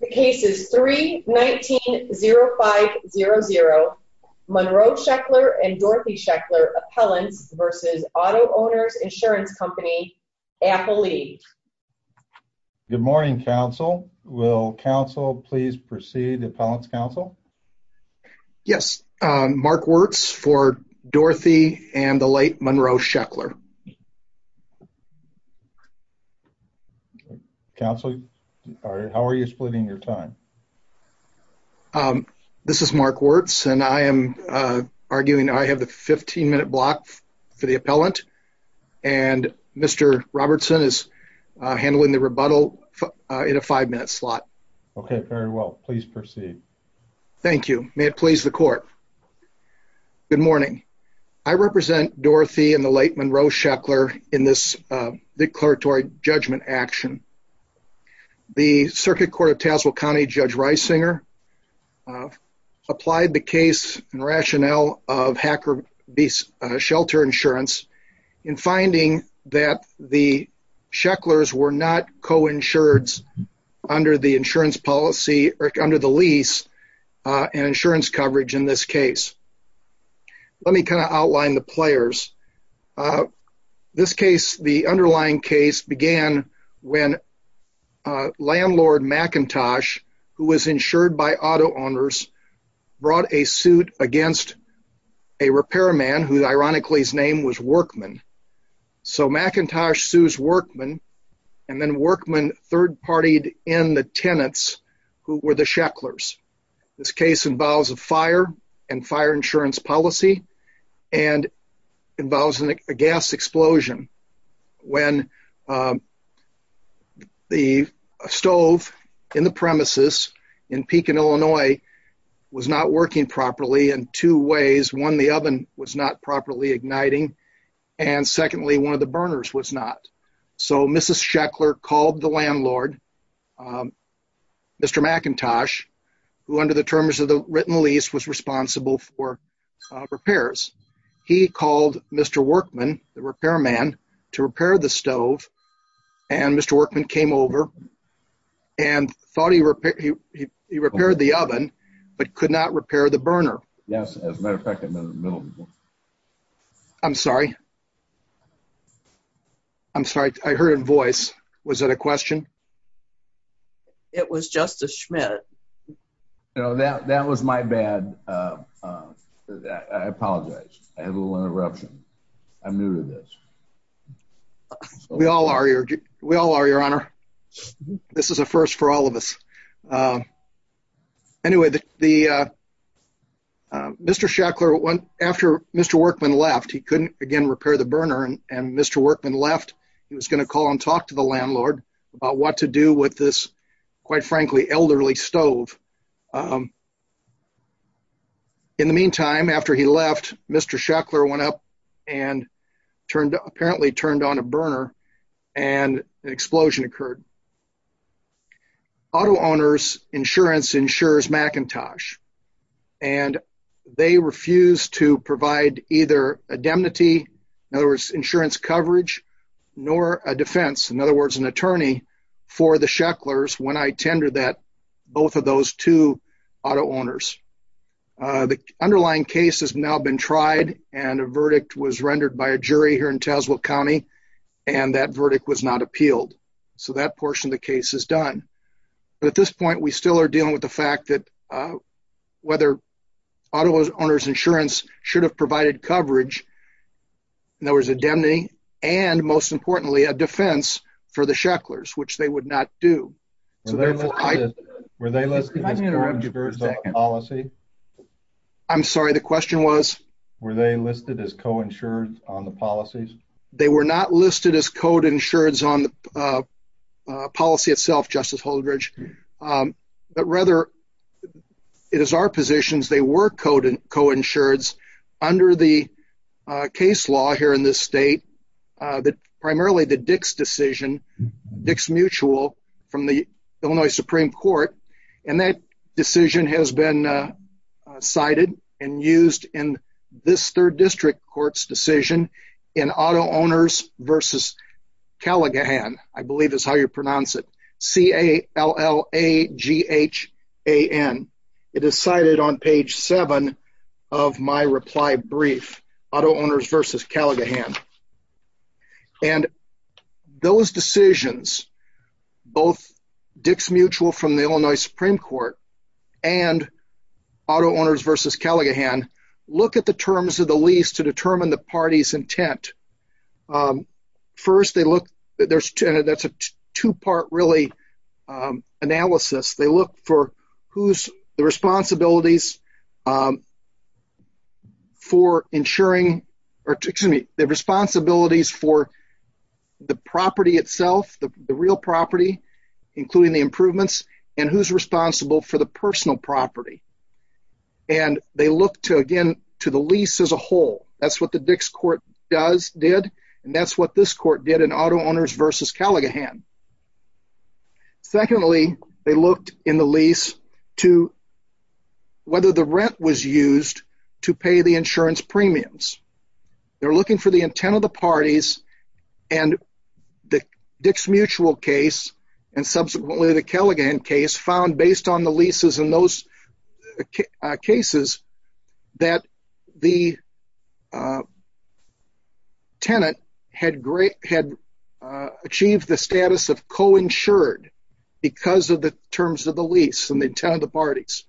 The case is 3-19-05-00, Monroe Sheckler v. Dorothy Sheckler Appellants v. Auto-Owners Insurance Co. Appellee. Good morning, Counsel. Will Counsel please proceed to Appellant's Counsel? Yes. Mark Wertz for Dorothy and the late Monroe Sheckler. Counsel, how are you splitting your time? This is Mark Wertz, and I am arguing I have the 15-minute block for the Appellant, and Mr. Robertson is handling the rebuttal in a 5-minute slot. Okay, very well. Please proceed. Thank you. May it please the Court. Good morning. I represent Dorothy and the late Monroe Sheckler in this declaratory judgment action. The Circuit Court of Tazewell County Judge Reisinger applied the case and rationale of Hacker v. Shelter Insurance in finding that the Shecklers were not co-insured under the lease and insurance coverage in this case. Let me kind of outline the players. This case, the underlying case, began when Landlord McIntosh, who was insured by Auto-Owners, brought a suit against a repairman who ironically's name was Workman. So McIntosh sues Workman, and then Workman third-partied in the tenants who were the Shecklers. This case involves a fire and fire insurance policy and involves a gas explosion when the stove in the premises in Pekin, Illinois, was not working properly in two ways. One, the oven was not properly igniting, and secondly, one of the burners was not. So Mrs. Sheckler called the Landlord, Mr. McIntosh, who under the terms of the written lease was responsible for repairs. He called Mr. Workman, the repairman, to repair the stove, and Mr. Workman came over and thought he repaired the oven, but could not repair the burner. Yes, as a matter of fact, I'm in the middle. I'm sorry. I'm sorry, I heard a voice. Was that a question? It was Justice Schmidt. No, that was my bad. I apologize. I had a little interruption. I'm new to this. We all are, Your Honor. This is a first for all of us. Anyway, Mr. Sheckler, after Mr. Workman left, he couldn't again repair the burner, and Mr. Workman left. He was going to call and talk to the Landlord about what to do with this, quite frankly, elderly stove. In the meantime, after he left, Mr. Sheckler went up and apparently turned on a burner, and an explosion occurred. Auto Owners Insurance insures McIntosh, and they refused to provide either indemnity, in other words, insurance coverage, nor a defense, in other words, an attorney, for the Shecklers when I tendered that, both of those two auto owners. The underlying case has now been tried, and a verdict was rendered by a jury here in Tazewell County, and that verdict was not appealed. So that portion of the case is done. But at this point, we still are dealing with the fact that whether Auto Owners Insurance should have provided coverage, in other words, indemnity, and most importantly, a defense for the Shecklers, which they would not do. Were they listed as co-insured on the policy? I'm sorry, the question was? Were they listed as co-insured on the policies? They were not listed as co-insured on the policy itself, Justice Holdredge. But rather, it is our position they were co-insured under the case law here in this state, primarily the Dix decision, Dix Mutual from the Illinois Supreme Court. And that decision has been cited and used in this third district court's decision in Auto Owners v. Callaghan, I believe is how you pronounce it, C-A-L-L-A-G-H-A-N. It is cited on page 7 of my reply brief, Auto Owners v. Callaghan. And those decisions, both Dix Mutual from the Illinois Supreme Court and Auto Owners v. Callaghan, look at the terms of the lease to determine the party's intent. First, that's a two-part analysis. They look for the responsibilities for the property itself, the real property, including the improvements, and who's responsible for the personal property. And they look, again, to the lease as a whole. That's what the Dix Court did, and that's what this court did in Auto Owners v. Callaghan. Secondly, they looked in the lease to whether the rent was used to pay the insurance premiums. They're looking for the intent of the parties, and the Dix Mutual case and subsequently the Callaghan case found, based on the leases in those cases, that the tenant had achieved the status of co-insured because of the terms of the lease and the intent of the parties.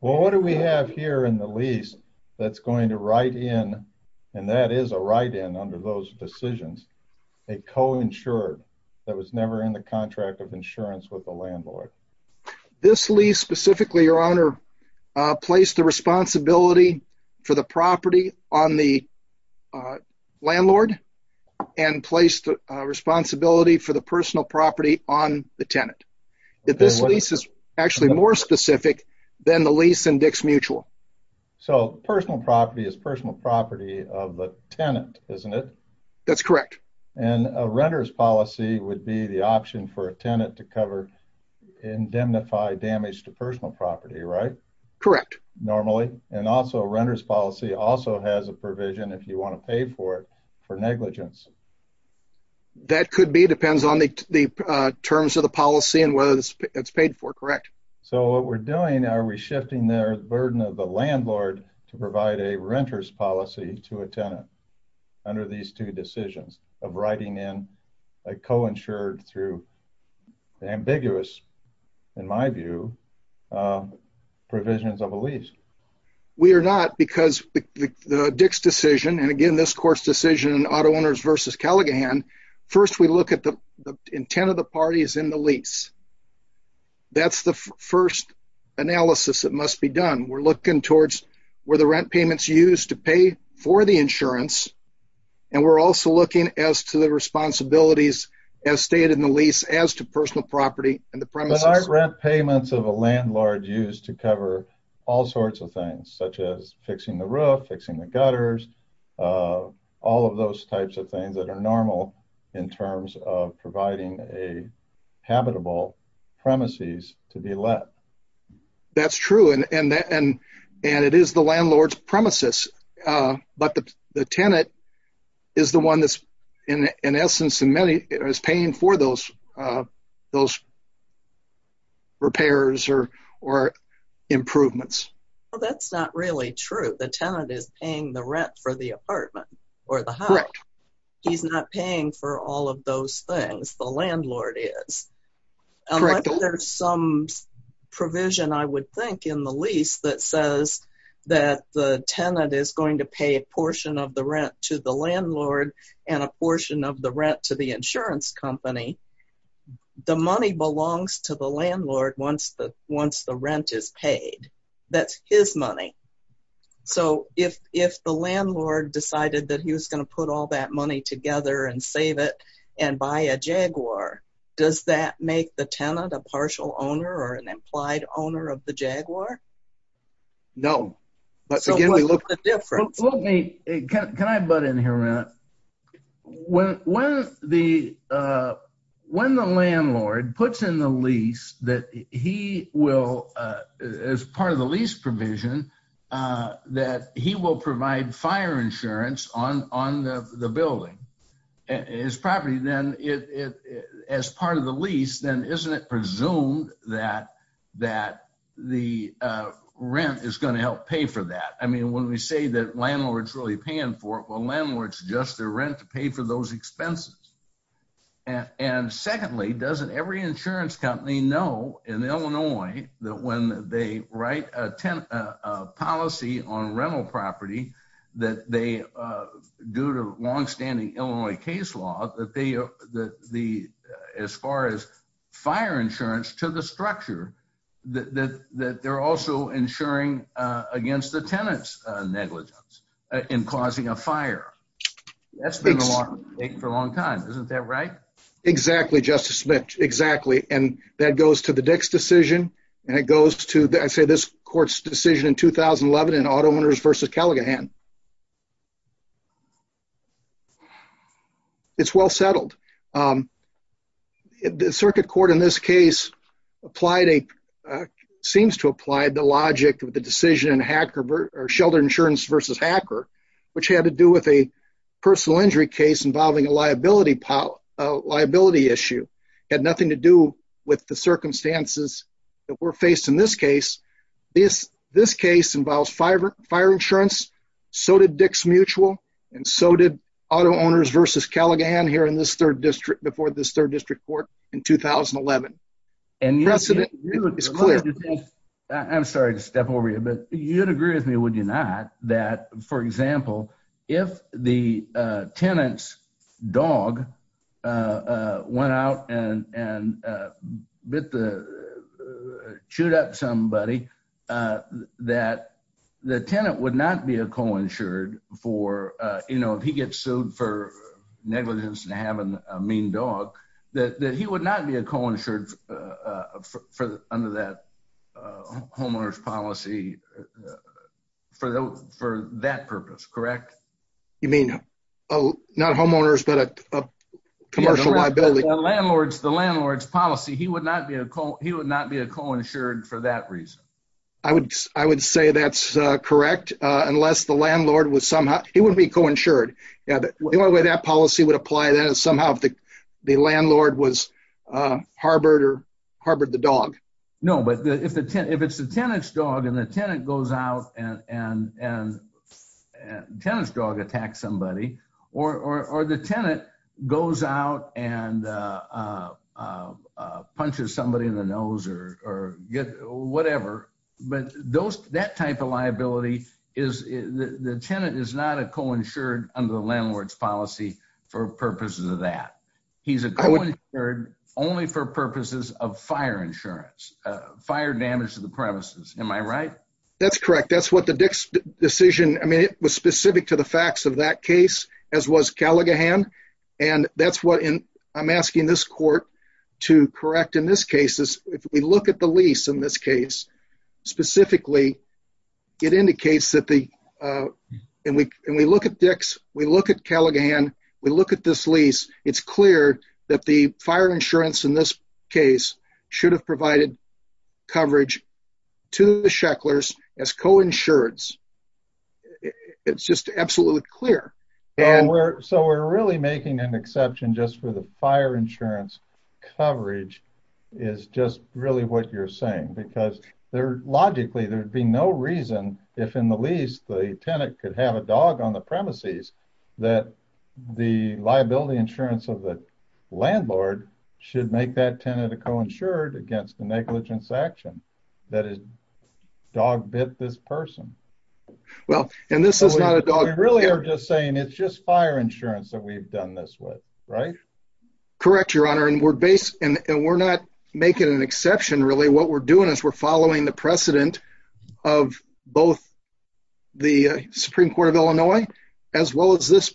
Well, what do we have here in the lease that's going to write in, and that is a write-in under those decisions, a co-insured that was never in the contract of insurance with the landlord? This lease specifically, Your Honor, placed the responsibility for the property on the landlord and placed the responsibility for the personal property on the tenant. This lease is actually more specific than the lease in Dix Mutual. So, personal property is personal property of the tenant, isn't it? That's correct. And a renter's policy would be the option for a tenant to indemnify damage to personal property, right? Correct. Normally. And also, a renter's policy also has a provision, if you want to pay for it, for negligence. That could be. It depends on the terms of the policy and whether it's paid for, correct? So, what we're doing, are we shifting the burden of the landlord to provide a renter's policy to a tenant under these two decisions of writing in a co-insured through ambiguous, in my view, provisions of a lease? We are not, because the Dix decision, and again, this court's decision in Auto Owners v. Callaghan, first we look at the intent of the parties in the lease. That's the first analysis that must be done. We're looking towards where the rent payments used to pay for the insurance, and we're also looking as to the responsibilities as stated in the lease as to personal property and the premises. But aren't rent payments of a landlord used to cover all sorts of things, such as fixing the roof, fixing the gutters, all of those types of things that are normal in terms of providing a habitable premises to be let? That's true, and it is the landlord's premises, but the tenant is the one that's, in essence, is paying for those repairs or improvements. Well, that's not really true. The tenant is paying the rent for the apartment or the house. Correct. He's not paying for all of those things. The landlord is. Correct. There's some provision, I would think, in the lease that says that the tenant is going to pay a portion of the rent to the landlord and a portion of the rent to the insurance company. The money belongs to the landlord once the rent is paid. That's his money. So, if the landlord decided that he was going to put all that money together and save it and buy a Jaguar, does that make the tenant a partial owner or an implied owner of the Jaguar? No. Can I butt in here a minute? When the landlord puts in the lease that he will, as part of the lease provision, that he will provide fire insurance on the building, his property then, as part of the lease, then isn't it presumed that the rent is going to help pay for that? I mean, when we say that landlord's really paying for it, well, landlord's just their rent to pay for those expenses. And secondly, doesn't every insurance company know in Illinois that when they write a policy on rental property that they, due to longstanding Illinois case law, that as far as fire insurance to the structure, that they're also insuring against the tenant's negligence in causing a fire? That's been a long take for a long time. Isn't that right? Exactly, Justice Smith. Exactly. And that goes to the Dix decision, and it goes to, I'd say, this court's decision in 2011 in Auto Owners v. Callaghan. It's well settled. The circuit court in this case seems to apply the logic of the decision in Shelter Insurance v. Hacker, which had to do with a personal injury case involving a liability issue. It had nothing to do with the circumstances that were faced in this case. This case involves fire insurance. So did Dix Mutual, and so did Auto Owners v. Callaghan here in this third district before this third district court in 2011. The precedent is clear. Under that homeowners policy for that purpose, correct? You mean not homeowners, but a commercial liability? The landlord's policy, he would not be a co-insured for that reason. I would say that's correct, unless the landlord was somehow—he wouldn't be co-insured. The only way that policy would apply is somehow if the landlord harbored the dog. No, but if it's the tenant's dog and the tenant goes out and—the tenant's dog attacks somebody, or the tenant goes out and punches somebody in the nose or whatever, but that type of liability is—the tenant is not a co-insured under the landlord's policy for purposes of that. He's a co-insured only for purposes of fire insurance, fire damage to the premises. Am I right? That's correct. That's what the Dix decision—I mean, it was specific to the facts of that case, as was Callaghan, and that's what I'm asking this court to correct in this case. If we look at the lease in this case specifically, it indicates that the—and we look at Dix, we look at Callaghan, we look at this lease, it's clear that the fire insurance in this case should have provided coverage to the Shecklers as co-insurance. It's just absolutely clear. So we're really making an exception just for the fire insurance coverage is just really what you're saying, because logically there'd be no reason, if in the lease the tenant could have a dog on the premises, that the liability insurance of the landlord should make that tenant a co-insured against the negligence action. That is, dog bit this person. Well, and this is not a dog— We really are just saying it's just fire insurance that we've done this with, right? Correct, Your Honor, and we're not making an exception, really. What we're doing is we're following the precedent of both the Supreme Court of Illinois, as well as this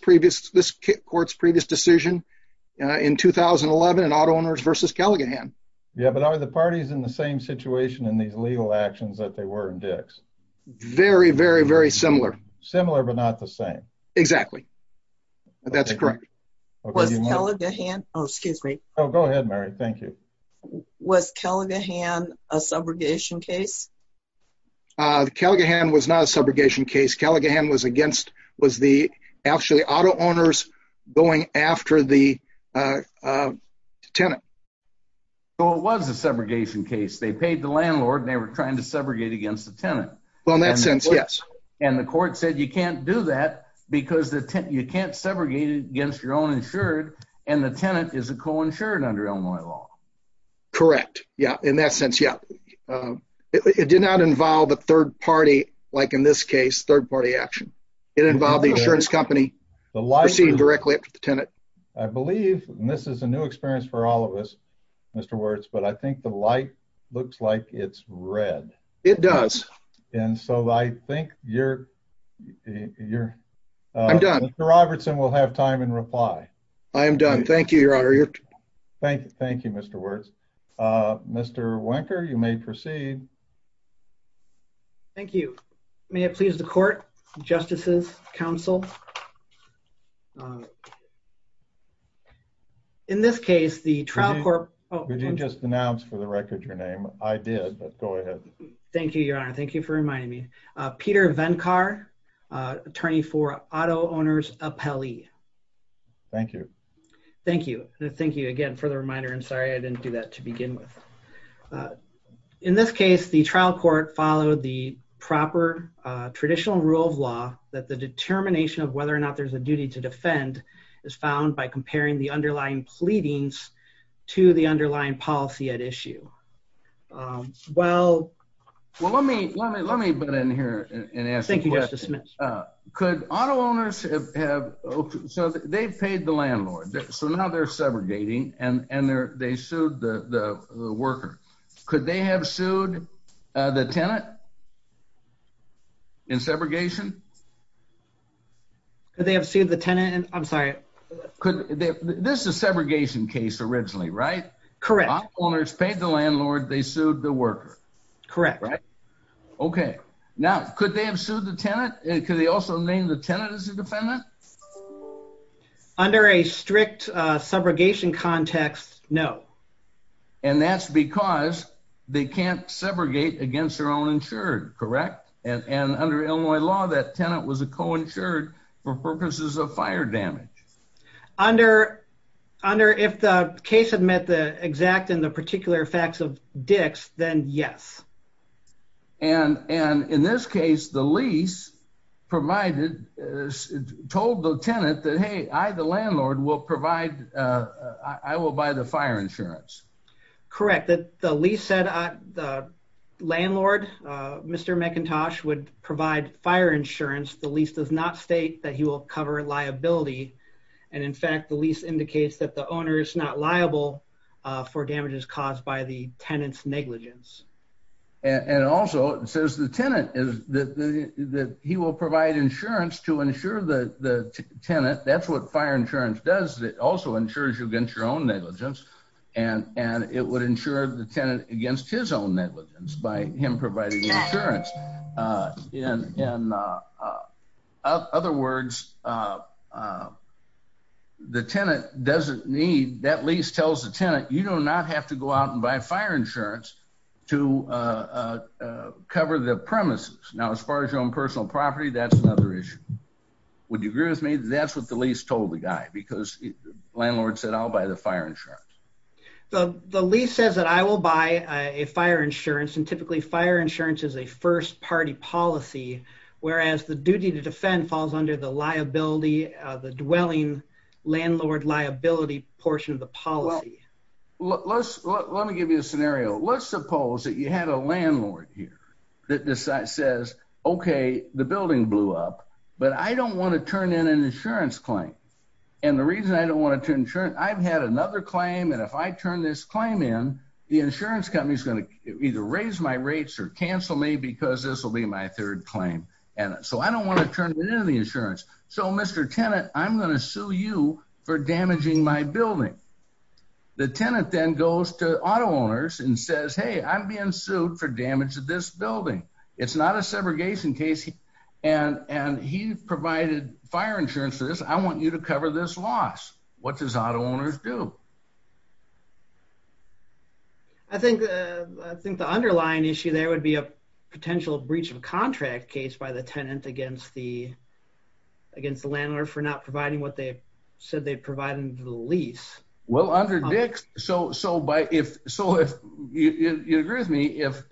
court's previous decision in 2011 in auto owners versus Callaghan. Yeah, but are the parties in the same situation in these legal actions that they were in Dix? Very, very, very similar. Similar, but not the same. Exactly. That's correct. Was Callaghan—oh, excuse me. Oh, go ahead, Mary. Thank you. Was Callaghan a subrogation case? Callaghan was not a subrogation case. Callaghan was against—was the actually auto owners going after the tenant. Well, it was a subrogation case. They paid the landlord, and they were trying to subrogate against the tenant. Well, in that sense, yes. And the court said you can't do that because you can't subrogate against your own insured, and the tenant is a co-insured under Illinois law. Correct. Yeah, in that sense, yeah. It did not involve a third party, like in this case, third-party action. It involved the insurance company proceeding directly up to the tenant. I believe—and this is a new experience for all of us, Mr. Wertz—but I think the light looks like it's red. It does. And so I think you're— I'm done. Mr. Robertson will have time in reply. I am done. Thank you, Your Honor. Thank you, Mr. Wertz. Mr. Wenker, you may proceed. Thank you. May it please the court, justices, counsel. In this case, the trial court— Did you just denounce for the record your name? I did, but go ahead. Thank you, Your Honor. Thank you for reminding me. Peter Venkar, attorney for auto owners Appelli. Thank you. Thank you. Thank you again for the reminder, and sorry I didn't do that to begin with. In this case, the trial court followed the proper traditional rule of law that the determination of whether or not there's a duty to defend is found by comparing the underlying pleadings to the underlying policy at issue. Well— Well, let me—let me—let me butt in here and ask a question. Thank you, Justice Smith. Could auto owners have—so they've paid the landlord, so now they're segregating, and they sued the worker. Could they have sued the tenant in segregation? Could they have sued the tenant in—I'm sorry. This is a segregation case originally, right? Correct. Auto owners paid the landlord. They sued the worker. Correct. Okay. Now, could they have sued the tenant? Could they also have named the tenant as a defendant? Under a strict segregation context, no. And that's because they can't segregate against their own insured, correct? And under Illinois law, that tenant was a co-insured for purposes of fire damage. Under—if the case had met the exact and the particular facts of Dix, then yes. And in this case, the lease provided—told the tenant that, hey, I, the landlord, will provide—I will buy the fire insurance. Correct. The lease said the landlord, Mr. McIntosh, would provide fire insurance. The lease does not state that he will cover liability. And in fact, the lease indicates that the owner is not liable for damages caused by the tenant's negligence. And also, it says the tenant is—that he will provide insurance to insure the tenant. That's what fire insurance does. It also insures you against your own negligence. And it would insure the tenant against his own negligence by him providing the insurance. In other words, the tenant doesn't need—that lease tells the tenant, you do not have to go out and buy fire insurance to cover the premises. Now, as far as your own personal property, that's another issue. Would you agree with me? That's what the lease told the guy because the landlord said, I'll buy the fire insurance. The lease says that I will buy a fire insurance, and typically, fire insurance is a first-party policy, whereas the duty to defend falls under the liability—the dwelling landlord liability portion of the policy. Well, let's—let me give you a scenario. Let's suppose that you had a landlord here that says, okay, the building blew up, but I don't want to turn in an insurance claim. And the reason I don't want to turn insurance—I've had another claim, and if I turn this claim in, the insurance company is going to either raise my rates or cancel me because this will be my third claim. And so I don't want to turn in the insurance. So, Mr. Tenant, I'm going to sue you for damaging my building. The tenant then goes to auto owners and says, hey, I'm being sued for damage to this building. It's not a segregation case, and he provided fire insurance for this. I want you to cover this loss. What does auto owners do? I think the underlying issue there would be a potential breach of contract case by the tenant against the landlord for not providing what they said they'd provide under the lease. Well, under DICS—so if—you agree with me? If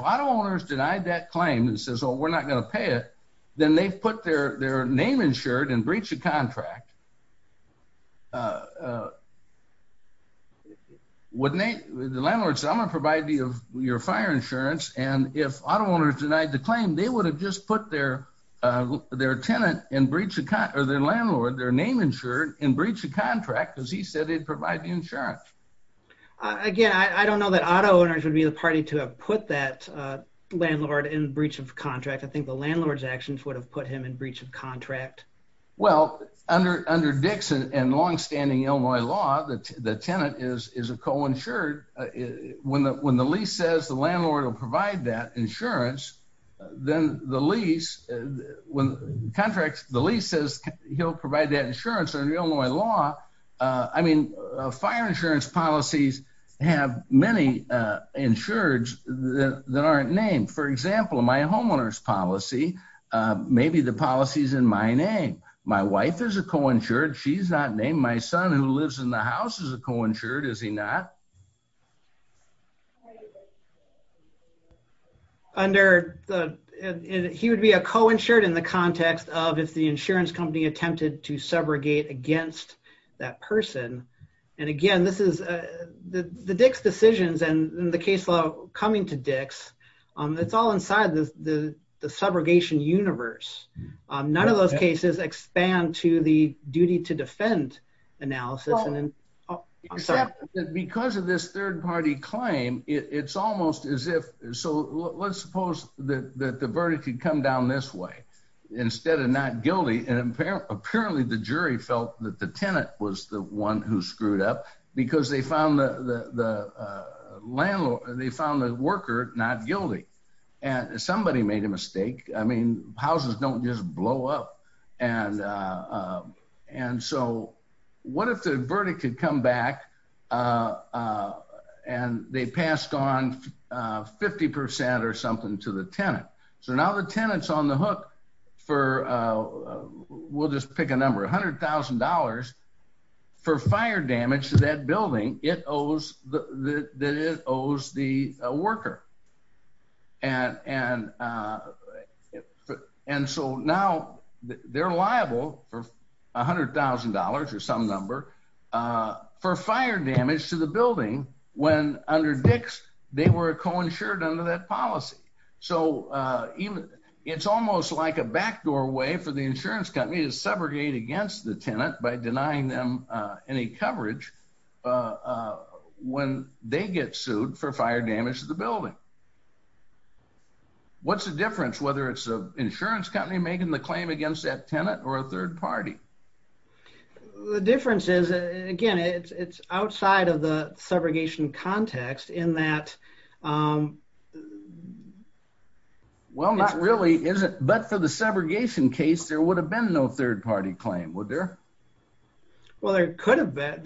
auto owners denied that claim and says, oh, we're not going to pay it, then they've put their name insured and breached the contract. Wouldn't they—the landlord said, I'm going to provide you your fire insurance, and if auto owners denied the claim, they would have just put their tenant in breach of—or their landlord, their name insured in breach of contract because he said he'd provide the insurance. Again, I don't know that auto owners would be the party to have put that landlord in breach of contract. I think the landlord's actions would have put him in breach of contract. Well, under DICS and longstanding Illinois law, the tenant is a co-insured. When the lease says the landlord will provide that insurance, then the lease—when contracts—the lease says he'll provide that insurance. Under Illinois law, I mean, fire insurance policies have many insureds that aren't named. For example, my homeowner's policy, maybe the policy's in my name. My wife is a co-insured. She's not named. My son who lives in the house is a co-insured, is he not? Under the—he would be a co-insured in the context of if the insurance company attempted to subrogate against that person. And again, this is—the DICS decisions and the case law coming to DICS, it's all inside the subrogation universe. None of those cases expand to the duty to defend analysis. Because of this third-party claim, it's almost as if—so let's suppose that the verdict had come down this way instead of not guilty. And apparently the jury felt that the tenant was the one who screwed up because they found the landlord—they found the worker not guilty. And somebody made a mistake. I mean, houses don't just blow up. And so what if the verdict had come back and they passed on 50 percent or something to the tenant? So now the tenant's on the hook for—we'll just pick a number—$100,000 for fire damage to that building that it owes the worker. And so now they're liable for $100,000 or some number for fire damage to the building when under DICS they were co-insured under that policy. So it's almost like a backdoor way for the insurance company to subrogate against the tenant by denying them any coverage when they get sued for fire damage to the building. What's the difference, whether it's an insurance company making the claim against that tenant or a third party? The difference is, again, it's outside of the subrogation context in that— Well, not really, is it? But for the subrogation case, there would have been no third party claim, would there? Well, there could have been.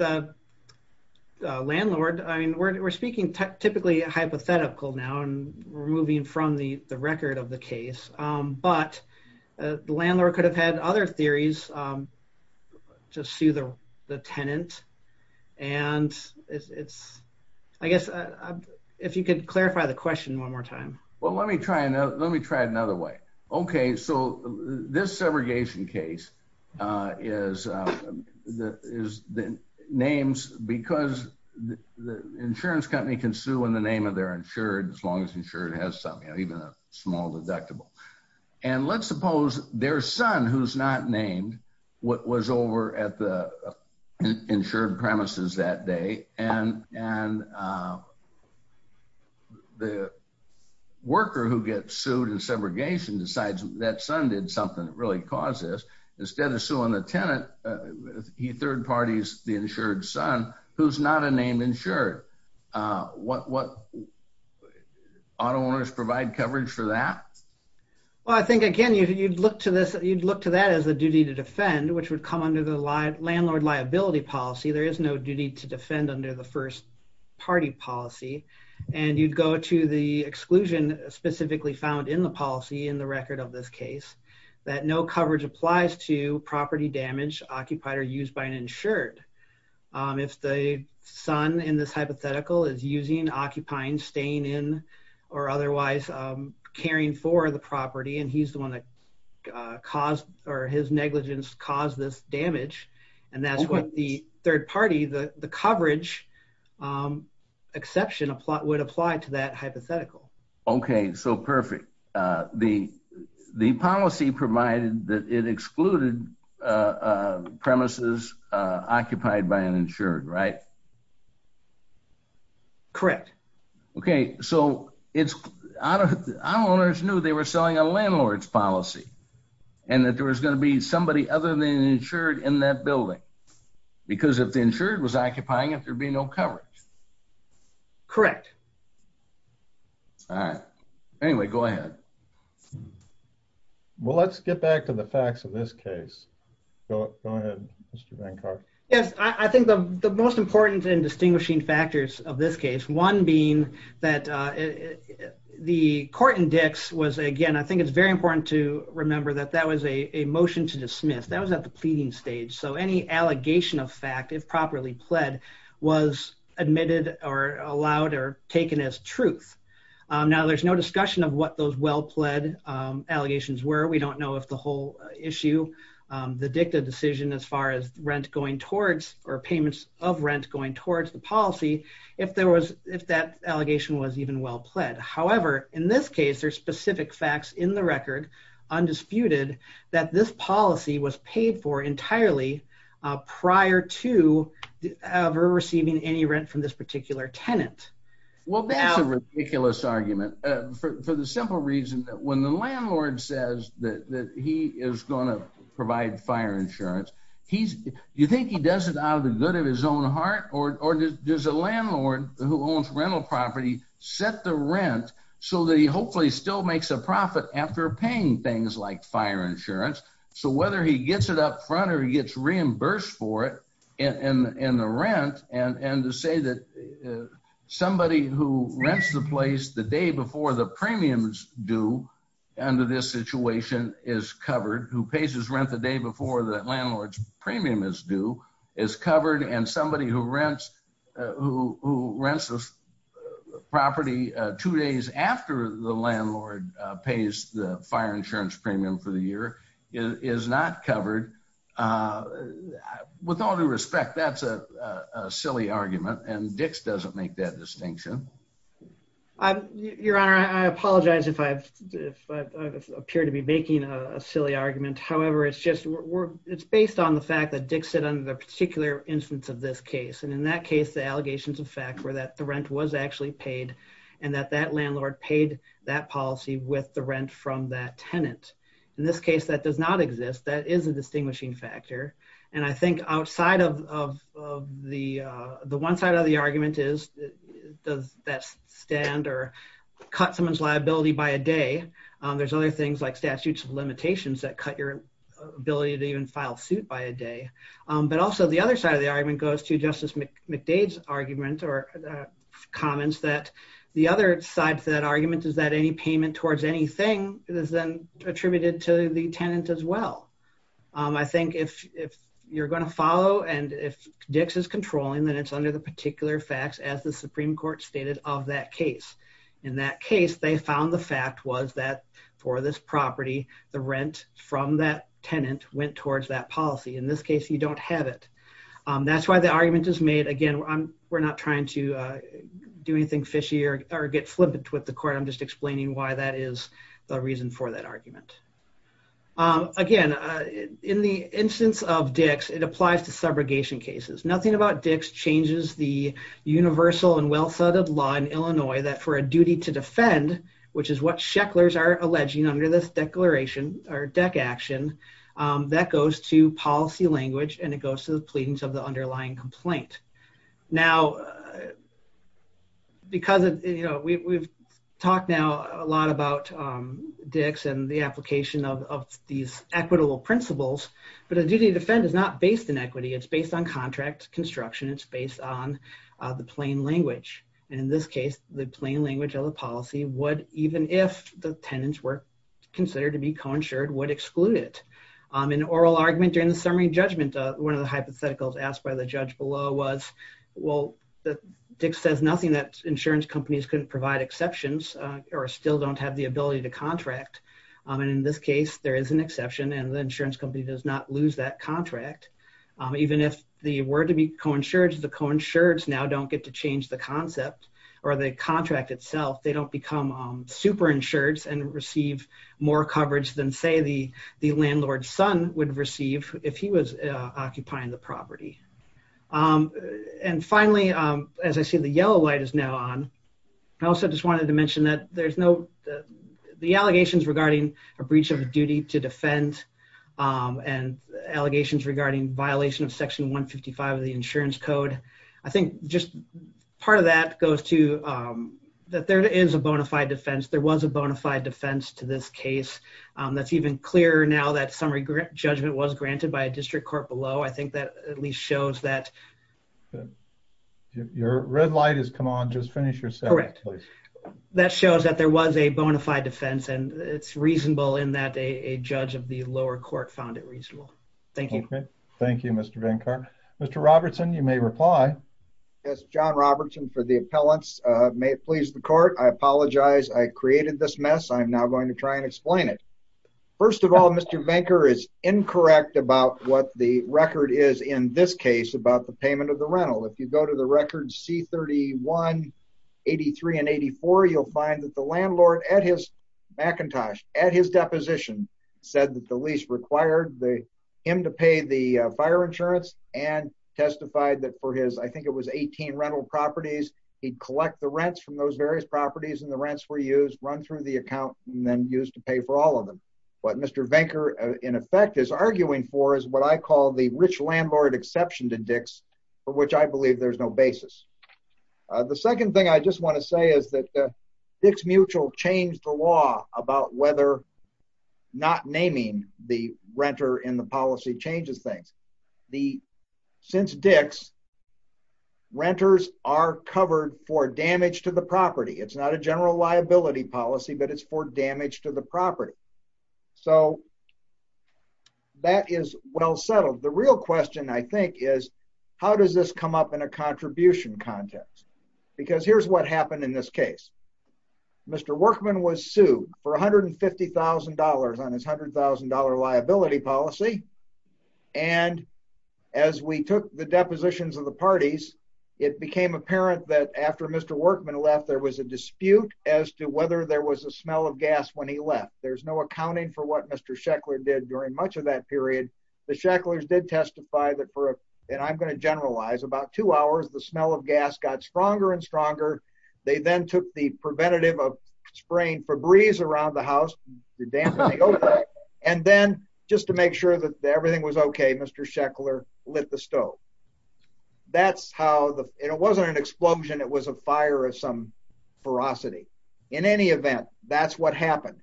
The landlord—I mean, we're speaking typically hypothetical now and we're moving from the record of the case. But the landlord could have had other theories to sue the tenant. And it's—I guess if you could clarify the question one more time. Well, let me try it another way. Okay, so this subrogation case is named because the insurance company can sue in the name of their insured as long as the insured has something, even a small deductible. And let's suppose their son, who's not named, was over at the insured premises that day, and the worker who gets sued in subrogation decides that son did something that really caused this. Well, I think, again, you'd look to this—you'd look to that as a duty to defend, which would come under the landlord liability policy. There is no duty to defend under the first party policy. And you'd go to the exclusion specifically found in the policy in the record of this case, that no coverage applies to property damage occupied or used by an insured. If the son in this hypothetical is using, occupying, staying in, or otherwise caring for the property and he's the one that caused—or his negligence caused this damage, and that's what the third party, the coverage exception would apply to that hypothetical. Okay, so perfect. The policy provided that it excluded premises occupied by an insured, right? Correct. Okay, so it's—owners knew they were selling a landlord's policy and that there was going to be somebody other than an insured in that building, because if the insured was occupying it, there'd be no coverage. Correct. All right. Anyway, go ahead. Well, let's get back to the facts of this case. Go ahead, Mr. Van Karp. Yes, I think the most important and distinguishing factors of this case, one being that the court index was—again, I think it's very important to remember that that was a motion to dismiss. That was at the pleading stage. So any allegation of fact, if properly pled, was admitted or allowed or taken as truth. Now, there's no discussion of what those well-pled allegations were. We don't know if the whole issue, the dicta decision as far as rent going towards—or payments of rent going towards the policy, if there was—if that allegation was even well-pled. However, in this case, there's specific facts in the record, undisputed, that this policy was paid for entirely prior to ever receiving any rent from this particular tenant. Well, that's a ridiculous argument for the simple reason that when the landlord says that he is going to provide fire insurance, you think he does it out of the good of his own heart? Or does a landlord who owns rental property set the rent so that he hopefully still makes a profit after paying things like fire insurance? So whether he gets it up front or he gets reimbursed for it in the rent, and to say that somebody who rents the place the day before the premiums due under this situation is covered, who pays his rent the day before the landlord's premium is due, is covered, and somebody who rents the property two days after the landlord pays the fire insurance premium for the year is not covered, with all due respect, that's a silly argument, and Dix doesn't make that distinction. Your Honor, I apologize if I appear to be making a silly argument. However, it's based on the fact that Dix said under the particular instance of this case, and in that case, the allegations of fact were that the rent was actually paid, and that that landlord paid that policy with the rent from that tenant. In this case, that does not exist. That is a distinguishing factor. And I think outside of the one side of the argument is, does that stand or cut someone's liability by a day? There's other things like statutes of limitations that cut your ability to even file suit by a day. But also, the other side of the argument goes to Justice McDade's argument or comments that the other side of that argument is that any payment towards anything is then attributed to the tenant as well. I think if you're going to follow and if Dix is controlling, then it's under the particular facts as the Supreme Court stated of that case. In that case, they found the fact was that for this property, the rent from that tenant went towards that policy. In this case, you don't have it. That's why the argument is made. Again, we're not trying to do anything fishy or get flippant with the court. I'm just explaining why that is the reason for that argument. Again, in the instance of Dix, it applies to subrogation cases. Nothing about Dix changes the universal and well-studded law in Illinois that for a duty to defend, which is what Shecklers are alleging under this declaration or DEC action, that goes to policy language and it goes to the pleadings of the underlying complaint. Now, we've talked now a lot about Dix and the application of these equitable principles, but a duty to defend is not based in equity. It's based on contract construction. It's based on the plain language. In this case, the plain language of the policy would, even if the tenants were considered to be coinsured, would exclude it. In an oral argument during the summary judgment, one of the hypotheticals asked by the judge below was, well, Dix says nothing that insurance companies couldn't provide exceptions or still don't have the ability to contract. In this case, there is an exception and the insurance company does not lose that contract. Even if they were to be coinsured, the coinsured now don't get to change the concept or the contract itself. They don't become superinsured and receive more coverage than, say, the landlord's son would receive if he was occupying the property. And finally, as I see the yellow light is now on, I also just wanted to mention that the allegations regarding a breach of duty to defend and allegations regarding violation of Section 155 of the Insurance Code, I think just part of that goes to that there is a bona fide defense. There was a bona fide defense to this case. That's even clearer now that summary judgment was granted by a district court below. I think that at least shows that... Your red light has come on. Just finish your sentence, please. That shows that there was a bona fide defense and it's reasonable in that a judge of the lower court found it reasonable. Thank you. Thank you, Mr. Venkert. Mr. Robertson, you may reply. Yes, John Robertson for the appellants. May it please the court, I apologize. I created this mess. I'm now going to try and explain it. First of all, Mr. Venker is incorrect about what the record is in this case about the payment of the rental. If you go to the record C-31, 83 and 84, you'll find that the landlord at his Macintosh, at his deposition said that the lease required him to pay the fire insurance and testified that for his, I think it was 18 rental properties. He'd collect the rents from those various properties and the rents were used, run through the account and then used to pay for all of them. What Mr. Venker in effect is arguing for is what I call the rich landlord exception to Dix, for which I believe there's no basis. The second thing I just want to say is that Dix Mutual changed the law about whether not naming the renter in the policy changes things. Since Dix, renters are covered for damage to the property. It's not a general liability policy, but it's for damage to the property. That is well settled. The real question, I think, is how does this come up in a contribution context? Because here's what happened in this case. Mr. Workman was sued for $150,000 on his $100,000 liability policy. And as we took the depositions of the parties, it became apparent that after Mr. Workman left, there was a dispute as to whether there was a smell of gas when he left. There's no accounting for what Mr. Sheckler did during much of that period. The Shecklers did testify that for, and I'm going to generalize, about two hours, the smell of gas got stronger and stronger. They then took the preventative of spraying Febreze around the house and then just to make sure that everything was okay, Mr. Sheckler lit the stove. That's how, and it wasn't an explosion, it was a fire of some ferocity. In any event, that's what happened.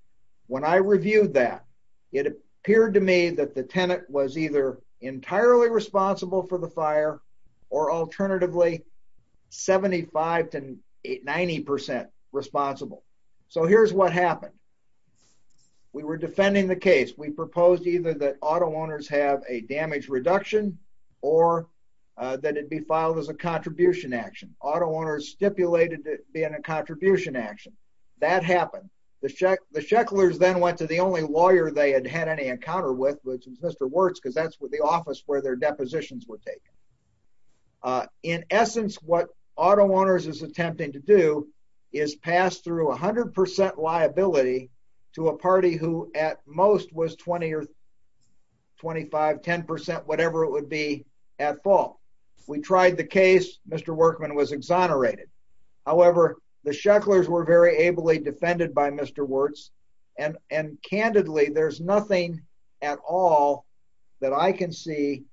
When I reviewed that, it appeared to me that the tenant was either entirely responsible for the fire, or alternatively, 75 to 90% responsible. So here's what happened. We were defending the case. We proposed either that auto owners have a damage reduction or that it be filed as a contribution action. Auto owners stipulated it being a contribution action. That happened. The Shecklers then went to the only lawyer they had had any encounter with, which was Mr. Wertz, because that's the office where their depositions were taken. In essence, what auto owners is attempting to do is pass through 100% liability to a party who at most was 20 or 25, 10%, whatever it would be, at fault. We tried the case. Mr. Workman was exonerated. However, the Shecklers were very ably defended by Mr. Wertz, and candidly, there's nothing at all that I can see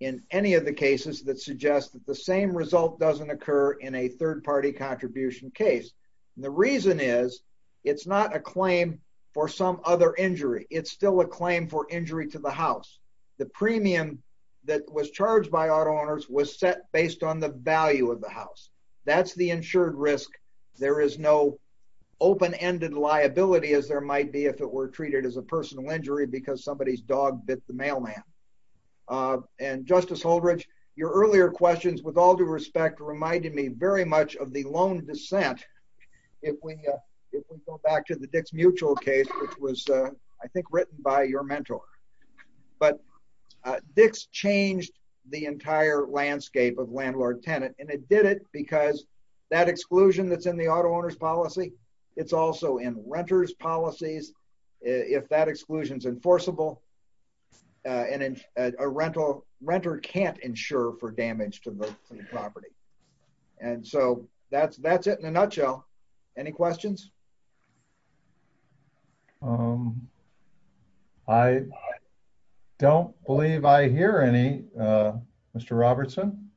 in any of the cases that suggest that the same result doesn't occur in a third party contribution case. The reason is, it's not a claim for some other injury. It's still a claim for injury to the house. The premium that was charged by auto owners was set based on the value of the house. That's the insured risk. There is no open-ended liability as there might be if it were treated as a personal injury because somebody's dog bit the mailman. Justice Holdridge, your earlier questions, with all due respect, reminded me very much of the loan dissent. If we go back to the Dix Mutual case, which was, I think, written by your mentor. But Dix changed the entire landscape of landlord-tenant, and it did it because that exclusion that's in the auto owner's policy, it's also in renter's policies. If that exclusion's enforceable, a renter can't insure for damage to the property. And so, that's it in a nutshell. Any questions? I don't believe I hear any, Mr. Robertson.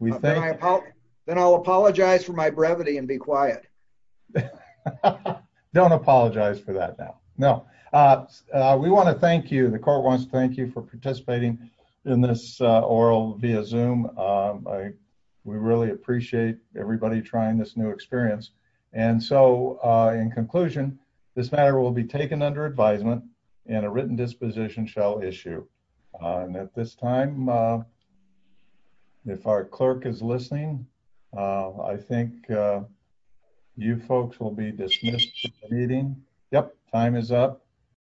Then I'll apologize for my brevity and be quiet. Don't apologize for that now. No. We want to thank you. The court wants to thank you for participating in this oral via Zoom. We really appreciate everybody trying this new experience. And so, in conclusion, this matter will be taken under advisement and a written disposition shall issue. At this time, if our clerk is listening, I think you folks will be dismissed from the meeting. Yep, time is up.